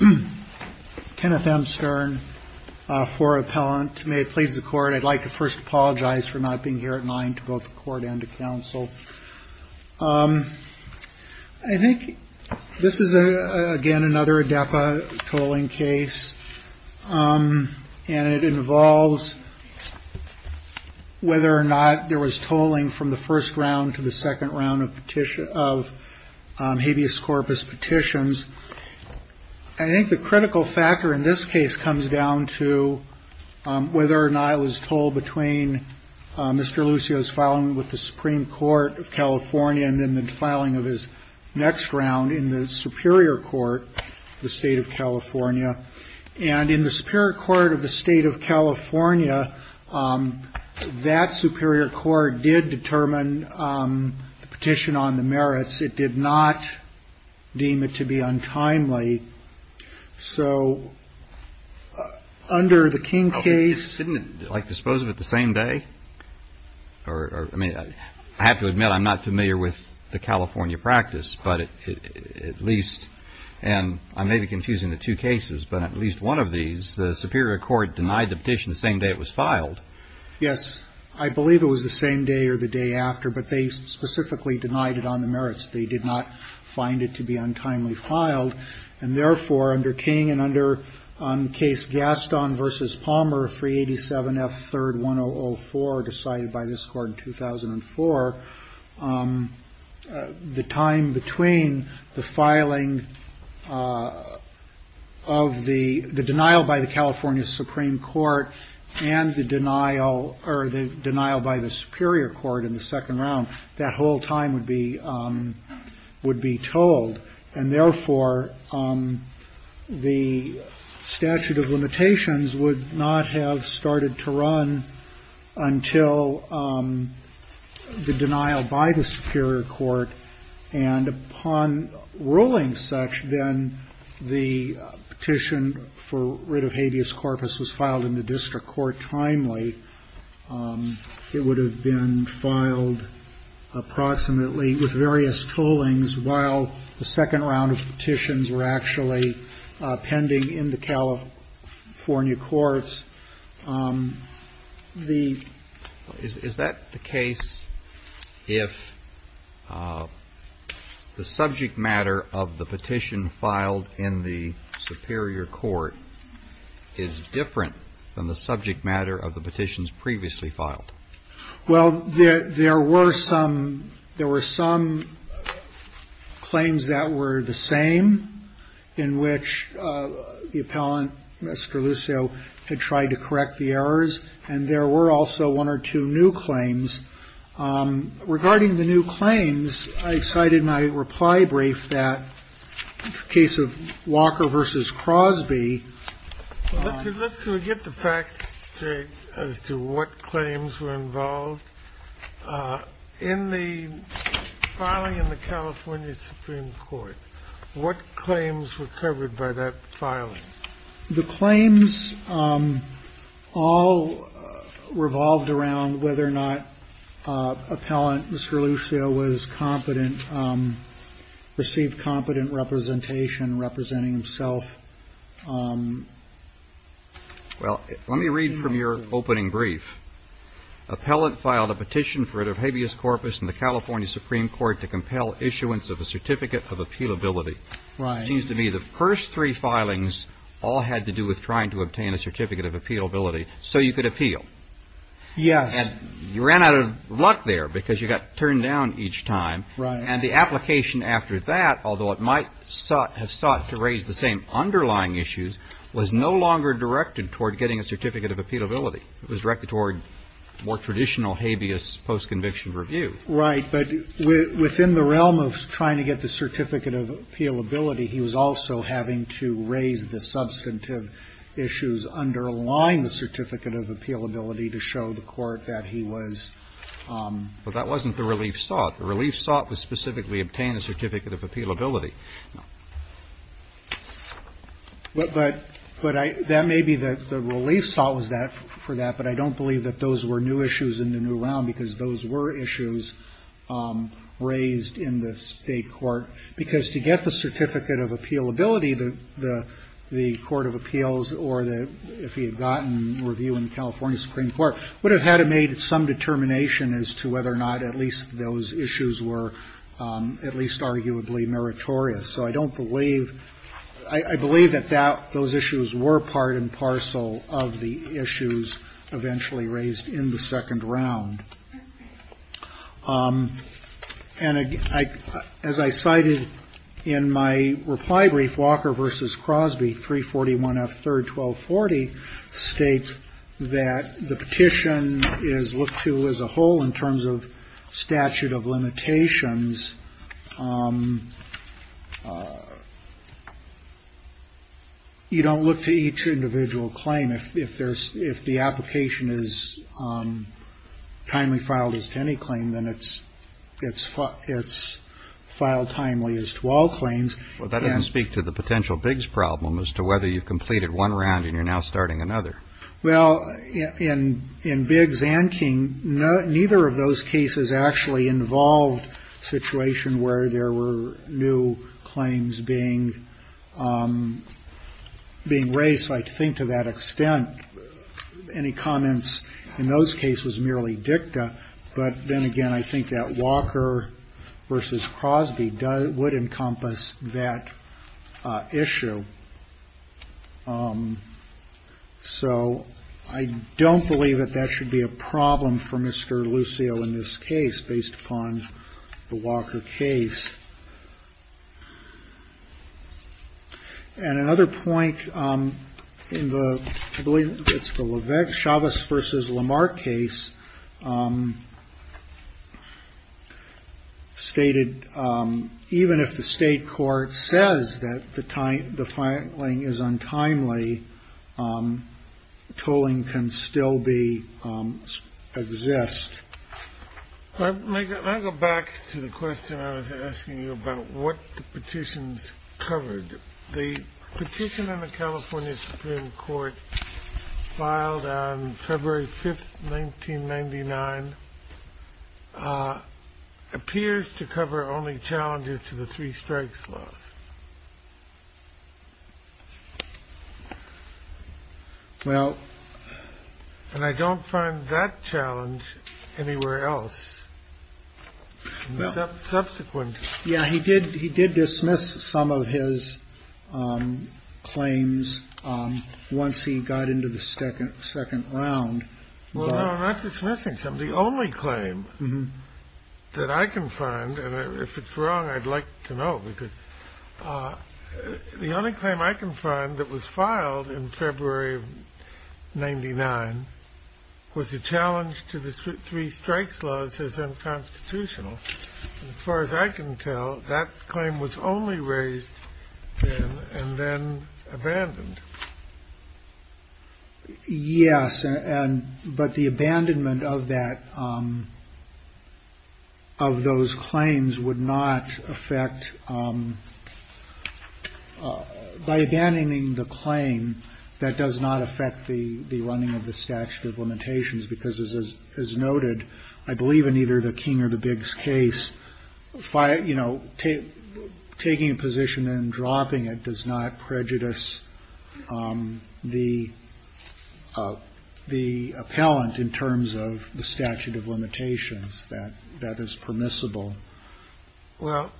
I would like to first apologize for not being here at 9 to both the court and the counsel. I think this is again another ADEPA tolling case and it involves whether or not there was a difference in the first round to the second round of habeas corpus petitions. I think the critical factor in this case comes down to whether or not it was told between Mr. Lucio's filing with the Supreme Court of California and then the filing of his next round in the Superior Court of the State of California. And in the Superior Court of the State of California, that Superior Court did determine the petition on the merits. It did not deem it to be untimely. So under the King case — Didn't it like dispose of it the same day? I mean, I have to admit I'm not familiar with the California practice, but at least — and I may be confusing the two cases, but at least one of these, the Superior Court denied the petition the same day it was filed. Yes, I believe it was the same day or the day after, but they specifically denied it on the merits. They did not find it to be untimely filed. And therefore, under King and under case Gaston v. Palmer, 387 F. 3rd. 1004 decided by this Court in 2004, the time between the filing of the denial by the California Supreme Court and the denial or the denial by the Superior Court in the second round, that whole time would be told. And therefore, the statute of limitations would not have started to run until the denial by the Superior Court. And upon ruling such, then the petition for writ of habeas corpus was filed in the District Court timely. It would have been filed approximately with various tollings while the second round of petitions were actually pending in the California courts. Is that the case if the subject matter of the petition filed in the Superior Court is different than the subject matter of the petitions previously filed? Well, there were some claims that were the same in which the appellant, Mr. Lucio, had tried to correct the errors. And there were also one or two new claims. Regarding the new claims, I cited my reply brief that in the case of Walker v. Crosby Let's get the facts straight as to what claims were involved. In the filing in the California Supreme Court, what claims were covered by that filing? The claims all revolved around whether or not appellant, Mr. Lucio, was competent, received competent representation, representing himself. Well, let me read from your opening brief. Appellant filed a petition for writ of habeas corpus in the California Supreme Court to compel issuance of a certificate of appealability. It seems to me the first three filings all had to do with trying to obtain a certificate of appealability so you could appeal. Yes. And you ran out of luck there because you got turned down each time. Right. And the application after that, although it might have sought to raise the same underlying issues, was no longer directed toward getting a certificate of appealability. It was directed toward more traditional habeas post-conviction review. Right. But within the realm of trying to get the certificate of appealability, he was also having to raise the substantive issues underlying the certificate of appealability to show the Court that he was But that wasn't the relief sought. The relief sought to specifically obtain a certificate of appealability. But that may be the relief sought for that, but I don't believe that those were new issues in the new round because those were issues raised in the State court. Because to get the certificate of appealability, the Court of Appeals or the, if he had gotten review in the California Supreme Court, would have had to made some determination as to whether or not at least those issues were at least arguably meritorious. So I don't believe, I believe that those issues were part and parcel of the issues eventually raised in the second round. And as I cited in my reply brief, Walker v. Crosby 341 F. 3rd 1240 states that the petition is looked to as a whole in terms of statute of limitations. You don't look to each individual claim. If the application is timely filed as to any claim, then it's filed timely as to all claims. Well, that doesn't speak to the potential Biggs problem as to whether you've completed one round and you're now starting another. Well, in Biggs and King, neither of those cases actually involved a situation where there were new claims being raised. I think to that extent, any comments in those cases was merely dicta. But then again, I think that Walker v. Crosby would encompass that issue. So I don't believe that that should be a problem for Mr. Lucio in this case, based upon the Walker case. And another point in the, I believe it's the Levesque, Chavez v. Lamar case stated, even if the state court says that the time, the filing is untimely, tolling can still be, exist. Let me go back to the question I was asking you about what the petitions covered. The petition in the California Supreme Court filed on February 5th, 1999, appears to cover only challenges to the three strikes law. Well, and I don't find that challenge anywhere else. Subsequent. Yeah, he did. He did dismiss some of his claims once he got into the second second round. Well, I'm not dismissing some of the only claim that I can find. And if it's wrong, I'd like to know because the only claim I can find that was filed in February of 99 was a challenge to the three strikes laws as unconstitutional. As far as I can tell, that claim was only raised and then abandoned. Yes. And but the abandonment of that, of those claims would not affect, by abandoning the claim, that does not affect the running of the statute of limitations because, as noted, I believe in either the King or the Biggs case, you know, taking a position and dropping it does not prejudice. The the appellant, in terms of the statute of limitations, that that is permissible. Well,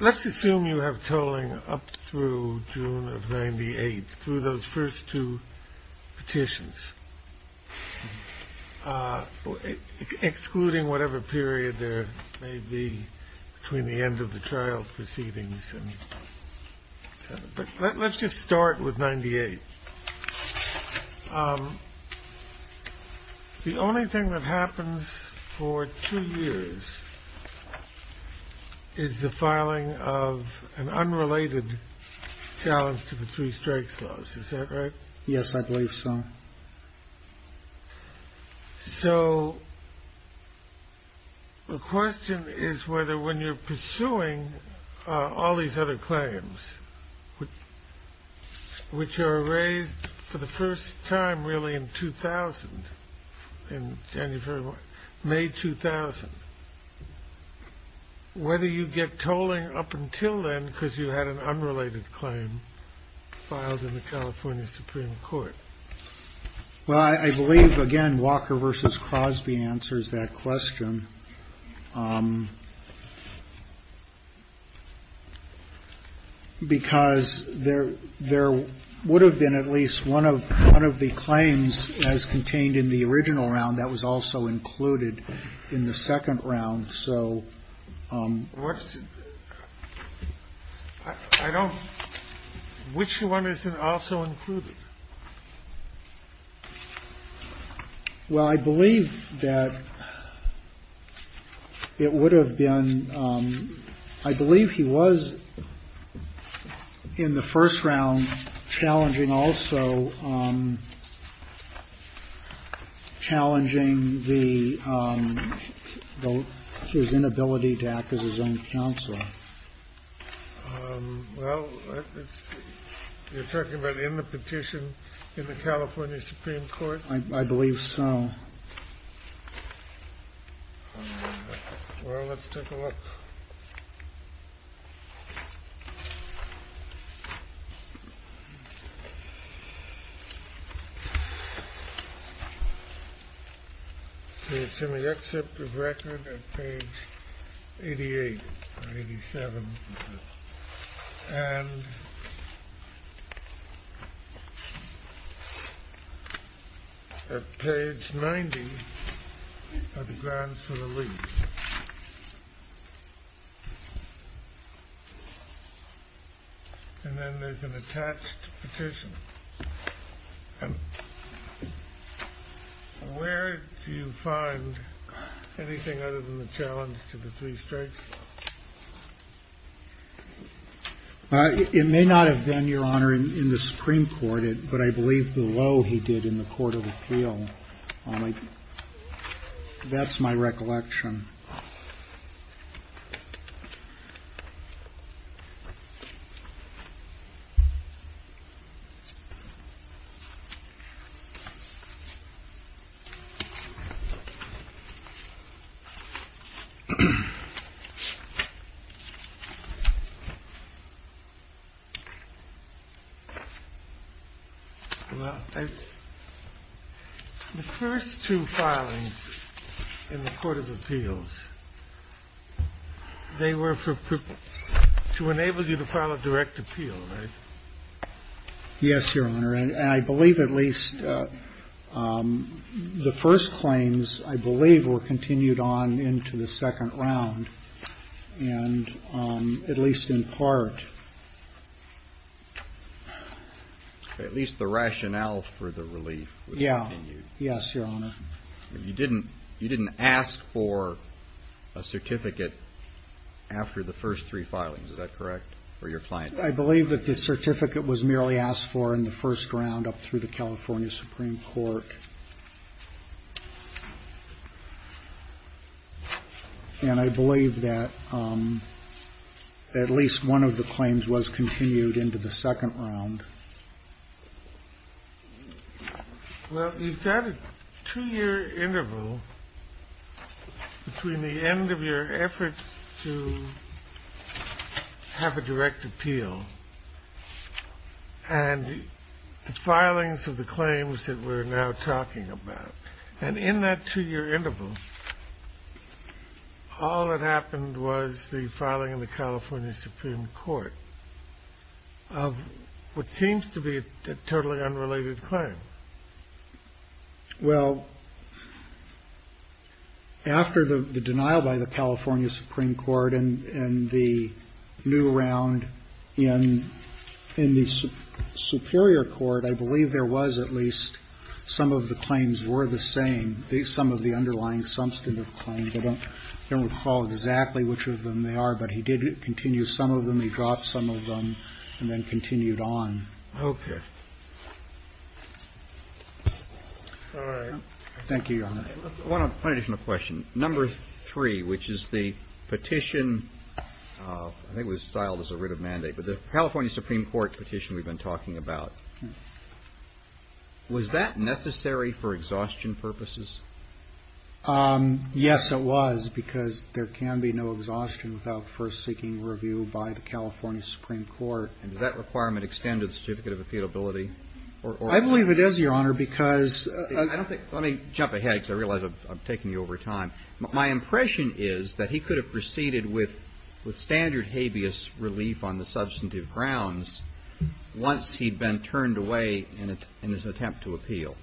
let's assume you have tolling up through June of 98 through those first two petitions, excluding whatever period there may be between the end of the trial proceedings. And let's just start with 98. The only thing that happens for two years is the filing of an unrelated challenge to the three strikes laws. Is that right? Yes, I believe so. So. The question is whether when you're pursuing all these other claims, which are raised for the first time, really, in 2000, in January, May 2000, whether you get tolling up until then because you had an unrelated claim filed in the California Supreme Court. Well, I believe, again, Walker versus Crosby answers that question. Because there there would have been at least one of one of the claims as contained in the original round that was also included in the second round. So what I don't which one isn't also included. Well, I believe that it would have been I believe he was in the first round challenging also challenging the his inability to act as his own counselor. Well, it's you're talking about in the petition in the California Supreme Court. I believe so. Well, let's take a look. It's in the excerpt of record page eighty eight, eighty seven. And. Page 90 of the grounds for the week. And then there's an attached petition. And where do you find anything other than the challenge to the three strikes? It may not have been your honor in the Supreme Court, but I believe below he did in the court of appeal. All right. That's my recollection. The first two filings in the court of appeals, they were for to enable you to file a direct appeal, right? Yes, Your Honor, and I believe at least the first claims, I believe, were continued on into the second round and at least in part. At least the rationale for the relief. Yeah. Yes, Your Honor. You didn't you didn't ask for a certificate after the first three filings, is that correct? For your client, I believe that the certificate was merely asked for in the first round up through the California Supreme Court. And I believe that at least one of the claims was continued into the second round. Well, you've got a two year interval between the end of your efforts to have a direct appeal and the filings of the claims that we're now talking about. And in that two year interval, all that happened was the filing in the California Supreme Court of what seems to be totally unrelated claim. Well, after the denial by the California Supreme Court and the new round and in the superior court, I believe there was at least some of the claims were the same. Some of the underlying substantive claims, I don't recall exactly which of them they are, but he did continue some of them. He dropped some of them and then continued on. OK. Thank you, Your Honor. One additional question. Number three, which is the petition that was filed as a writ of mandate with the California Supreme Court petition we've been talking about. Was that necessary for exhaustion purposes? Yes, it was, because there can be no exhaustion without first seeking review by the California Supreme Court. And does that requirement extend to the certificate of appealability? I believe it is, Your Honor, because I don't think let me jump ahead because I realize I'm taking you over time. My impression is that he could have proceeded with with standard habeas relief on the substantive grounds once he'd been turned away in his attempt to appeal.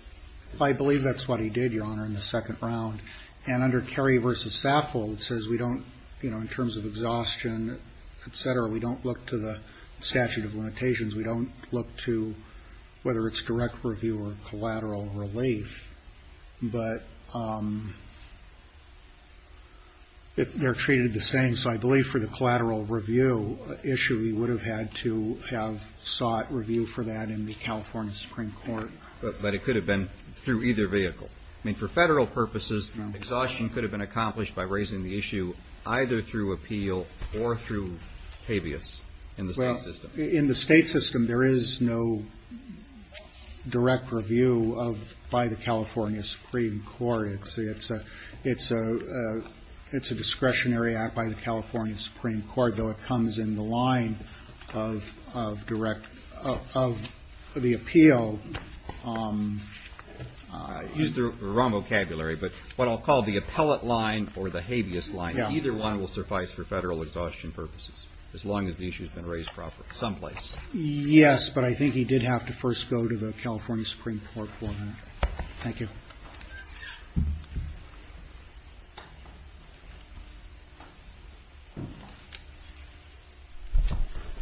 I believe that's what he did, Your Honor, in the second round. And under Cary v. Saffold, it says we don't, you know, in terms of exhaustion, et cetera, we don't look to the statute of limitations. We don't look to whether it's direct review or collateral relief, but they're treated the same. So I believe for the collateral review issue, we would have had to have sought review for that in the California Supreme Court. But it could have been through either vehicle. I mean, for federal purposes, exhaustion could have been accomplished by raising the issue either through appeal or through habeas in the state system. In the state system, there is no direct review of by the California Supreme Court. It's a it's a it's a discretionary act by the California Supreme Court, though it comes in the line of of direct of the appeal. So I used the wrong vocabulary, but what I'll call the appellate line or the habeas line, either one will suffice for federal exhaustion purposes, as long as the issue has been raised properly someplace. Yes. But I think he did have to first go to the California Supreme Court for that. Thank you.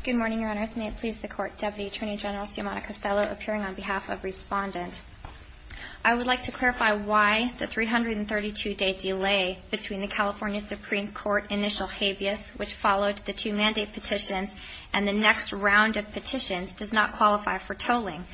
Good morning, Your Honors. May it please the Court, Deputy Attorney General Simon Castello appearing on behalf of Respondent. I would like to clarify why the 332 day delay between the California Supreme Court initial habeas, which followed the two mandate petitions and the next round of petitions, does not qualify for tolling.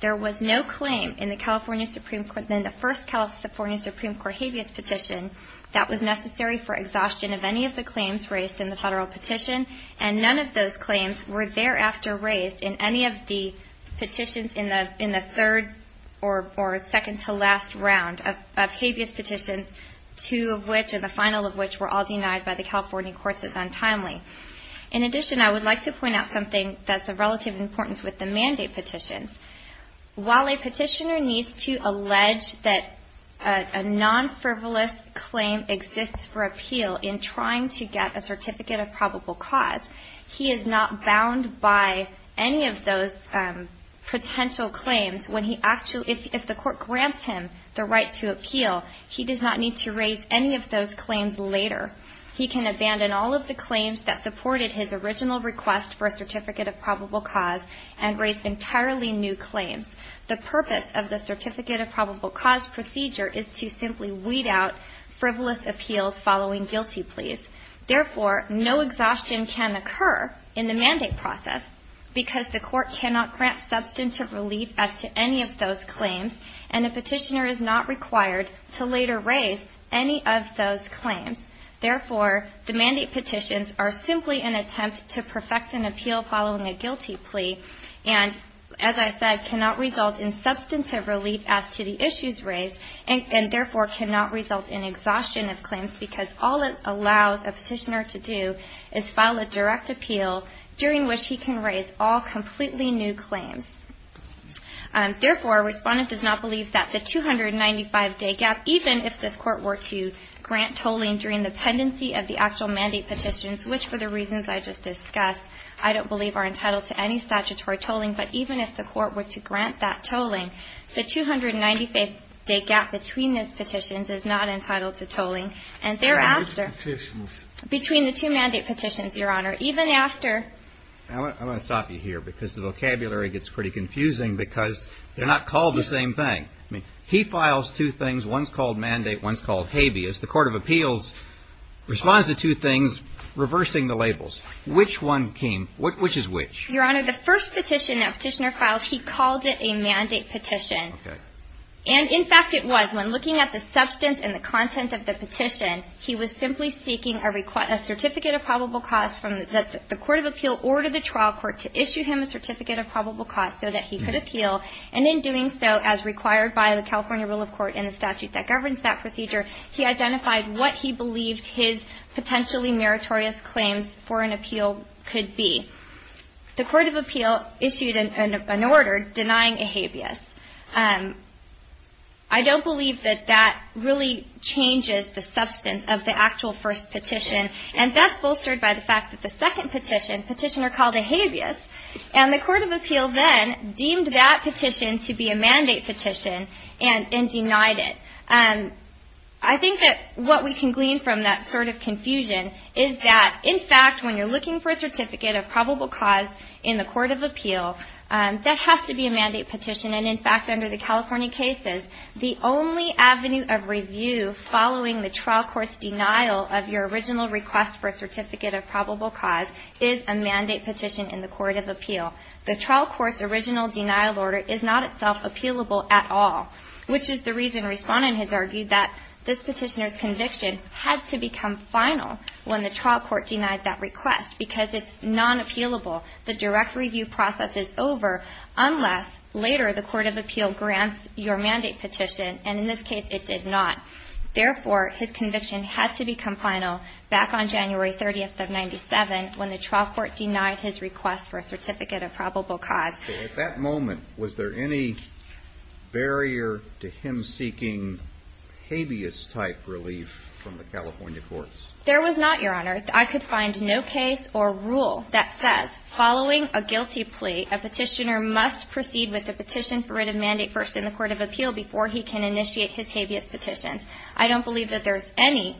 There was no claim in the California Supreme Court, then the first California Supreme Court habeas petition that was necessary for exhaustion of any of the claims raised in the federal petition. And none of those claims were thereafter raised in any of the petitions in the in the third or second to last round of habeas petitions, two of which in the final of which were all denied by the California courts as untimely. In addition, I would like to point out something that's of relative importance with the mandate petitions. While a petitioner needs to allege that a non-frivolous claim exists for appeal in trying to get a certificate of probable cause, he is not bound by any of those potential claims when he actually, if the court grants him the right to appeal, he does not need to raise any of those claims later. He can abandon all of the claims that supported his original request for a certificate of probable cause and raise entirely new claims. The purpose of the certificate of probable cause procedure is to simply weed out frivolous appeals following guilty pleas. Therefore, no exhaustion can occur in the mandate process because the court cannot grant substantive relief as to any of those claims. And a petitioner is not required to later raise any of those claims. Therefore, the mandate petitions are simply an attempt to perfect an appeal following a guilty plea and, as I said, cannot result in substantive relief as to the issues raised and therefore cannot result in exhaustion of claims because all it allows a petitioner to do is file a direct appeal during which he can raise all completely new claims. Therefore, Respondent does not believe that the 295-day gap, even if this court were to grant tolling during the pendency of the actual mandate petitions, which for the reasons I just discussed, I don't believe are entitled to any statutory tolling, but even if the court were to grant that tolling, the 295-day gap between those petitions is not entitled to tolling. And thereafter, between the two mandate petitions, Your Honor, even after... This is pretty confusing because they're not called the same thing. I mean, he files two things. One's called mandate. One's called habeas. The Court of Appeals responds to two things, reversing the labels. Which one came? Which is which? Your Honor, the first petition that petitioner filed, he called it a mandate petition. Okay. And, in fact, it was. When looking at the substance and the content of the petition, he was simply seeking a certificate of probable cause from... The Court of Appeal ordered the trial court to issue him a certificate of probable cause so that he could appeal. And in doing so, as required by the California rule of court and the statute that governs that procedure, he identified what he believed his potentially meritorious claims for an appeal could be. The Court of Appeal issued an order denying a habeas. I don't believe that that really changes the substance of the actual first petition. And that's bolstered by the fact that the second petition, petitioner called it habeas. And the Court of Appeal then deemed that petition to be a mandate petition and denied it. I think that what we can glean from that sort of confusion is that, in fact, when you're looking for a certificate of probable cause in the Court of Appeal, that has to be a mandate petition. And, in fact, under the California cases, the only avenue of review following the trial court's denial of your original request for a certificate of probable cause is a mandate petition in the Court of Appeal. The trial court's original denial order is not itself appealable at all, which is the reason Respondent has argued that this petitioner's conviction had to become final when the trial court denied that request because it's non-appealable. The direct review process is over unless, later, the Court of Appeal grants your mandate petition. And, in this case, it did not. Therefore, his conviction had to become final back on January 30th of 1997 when the trial court denied his request for a certificate of probable cause. So, at that moment, was there any barrier to him seeking habeas-type relief from the California courts? There was not, Your Honor. I could find no case or rule that says, following a guilty plea, a petitioner must proceed with a petition for written mandate first in the Court of Appeal before he can initiate his habeas petitions. I don't believe that there's any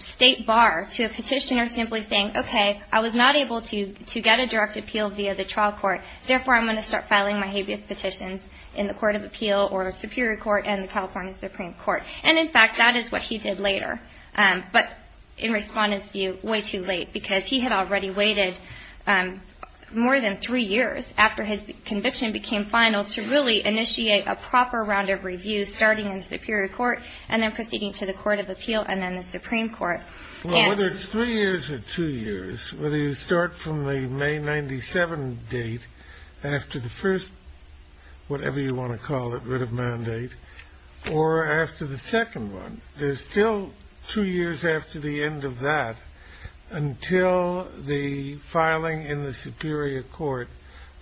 state bar to a petitioner simply saying, okay, I was not able to get a direct appeal via the trial court. Therefore, I'm going to start filing my habeas petitions in the Court of Appeal or Superior Court and the California Supreme Court. And, in fact, that is what he did later. But, in Respondent's view, way too late because he had already waited more than three years after his conviction became final to really initiate a proper round of review, starting in the Superior Court and then proceeding to the Court of Appeal and then the Supreme Court. Well, whether it's three years or two years, whether you start from the May 97 date after the first whatever you want to call it, or after the second one, there's still two years after the end of that until the filing in the Superior Court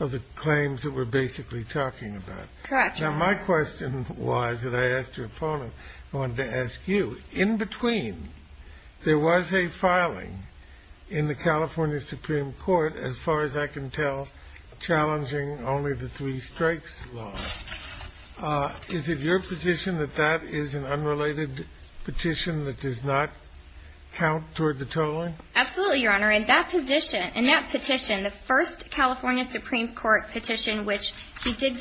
of the claims that we're basically talking about. Now, my question was that I asked your opponent. I wanted to ask you, in between there was a filing in the California Supreme Court, as far as I can tell, challenging only the three-strikes law. Is it your position that that is an unrelated petition that does not count toward the tolling? Absolutely, Your Honor. In that position, in that petition, the first California Supreme Court petition, which he did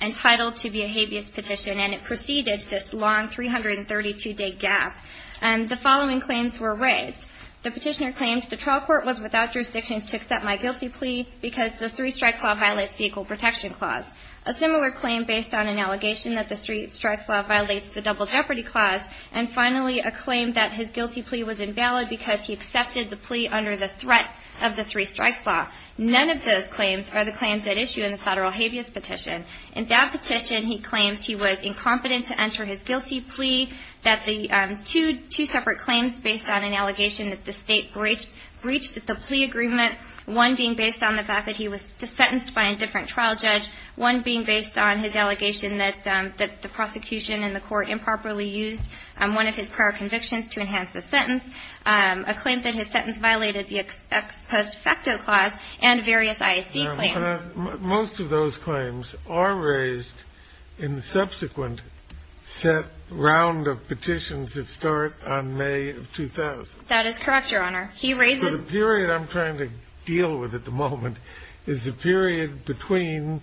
entitle to be a habeas petition, and it preceded this long 332-day gap, the following claims were raised. The petitioner claimed the trial court was without jurisdiction to accept my guilty plea because the three-strikes law violates the Equal Protection Clause, a similar claim based on an allegation that the three-strikes law violates the Double Jeopardy Clause, and finally, a claim that his guilty plea was invalid because he accepted the plea under the threat of the three-strikes law. None of those claims are the claims at issue in the federal habeas petition. In that petition, he claims he was incompetent to enter his guilty plea, that the two separate claims based on an allegation that the state breached the plea agreement, one being based on the fact that he was sentenced by a different trial judge, one being based on his allegation that the prosecution in the court improperly used one of his prior convictions to enhance his sentence, a claim that his sentence violated the Ex Post Facto Clause, and various IAC claims. Most of those claims are raised in the subsequent set round of petitions that start on May of 2000. That is correct, Your Honor. So the period I'm trying to deal with at the moment is the period between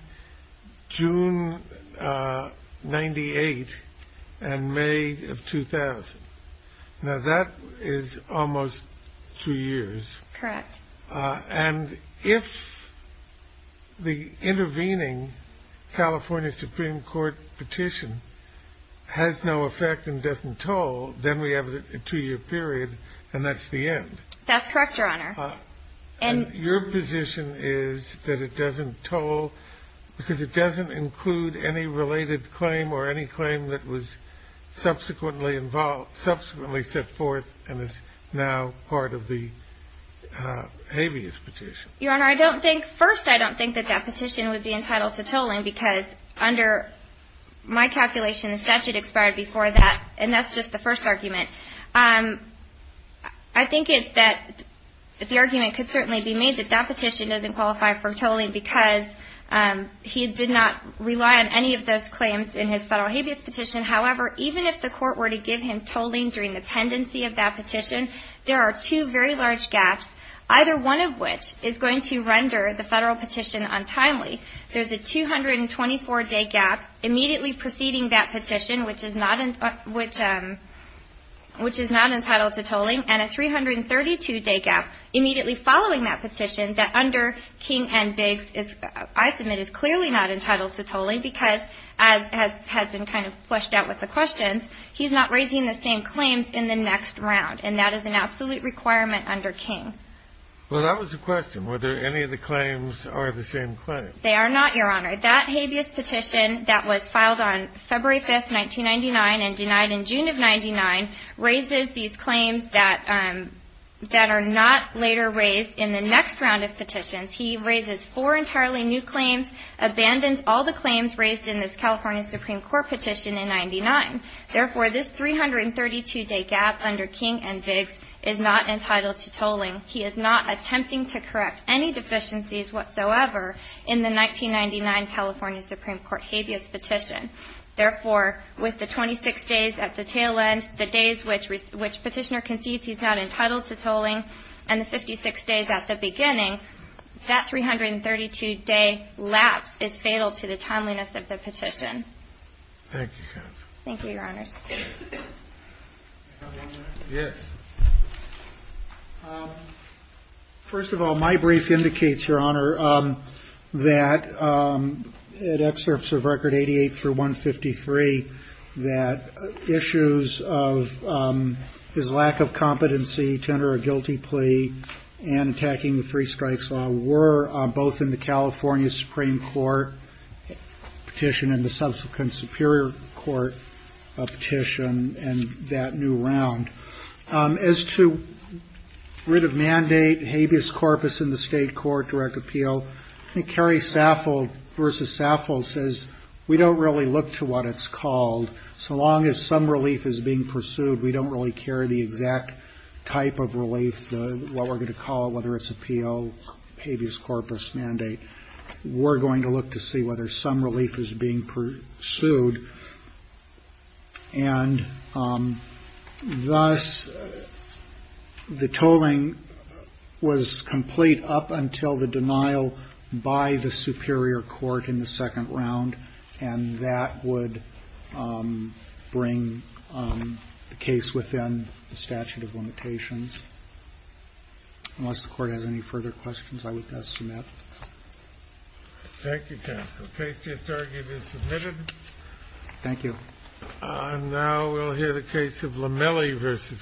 June 98 and May of 2000. Now that is almost two years. Correct. And if the intervening California Supreme Court petition has no effect and doesn't toll, then we have a two-year period, and that's the end. That's correct, Your Honor. Your position is that it doesn't toll because it doesn't include any related claim or any claim that was subsequently involved, subsequently set forth and is now part of the habeas petition. Your Honor, I don't think – first, I don't think that that petition would be entitled to tolling because under my calculation, the statute expired before that, and that's just the first argument. I think that the argument could certainly be made that that petition doesn't qualify for tolling because he did not rely on any of those claims in his federal habeas petition. However, even if the court were to give him tolling during the pendency of that petition, there are two very large gaps, either one of which is going to render the federal petition untimely. There's a 224-day gap immediately preceding that petition, which is not entitled to tolling, and a 332-day gap immediately following that petition that under King and Biggs, I submit, is clearly not entitled to tolling because, as has been kind of fleshed out with the questions, he's not raising the same claims in the next round, and that is an absolute requirement under King. Well, that was the question. Were there any of the claims are the same claims? They are not, Your Honor. That habeas petition that was filed on February 5th, 1999, and denied in June of 99, raises these claims that are not later raised in the next round of petitions. He raises four entirely new claims, abandons all the claims raised in this California Supreme Court petition in 99. Therefore, this 332-day gap under King and Biggs is not entitled to tolling. He is not attempting to correct any deficiencies whatsoever in the 1999 California Supreme Court habeas petition. Therefore, with the 26 days at the tail end, the days which Petitioner concedes he's not entitled to tolling, and the 56 days at the beginning, that 332-day lapse is fatal to the timeliness of the petition. Thank you, counsel. Thank you, Your Honors. Yes. First of all, my brief indicates, Your Honor, that at excerpts of Record 88 through 153, that issues of his lack of competency to enter a guilty plea and attacking the three-strikes law were both in the California Supreme Court petition and the subsequent Superior Court petition in that new round. As to writ of mandate, habeas corpus in the state court, direct appeal, I think Carrie Saffold versus Saffold says, we don't really look to what it's called. So long as some relief is being pursued, we don't really care the exact type of relief, what we're going to call it, whether it's appeal, habeas corpus mandate. We're going to look to see whether some relief is being pursued. And thus, the tolling was complete up until the denial by the Superior Court in the second round, and that would bring the case within the statute of limitations. Unless the Court has any further questions, I would thus submit. Thank you, counsel. The case just argued is submitted. Thank you. Now we'll hear the case of Lamelli versus Gordon.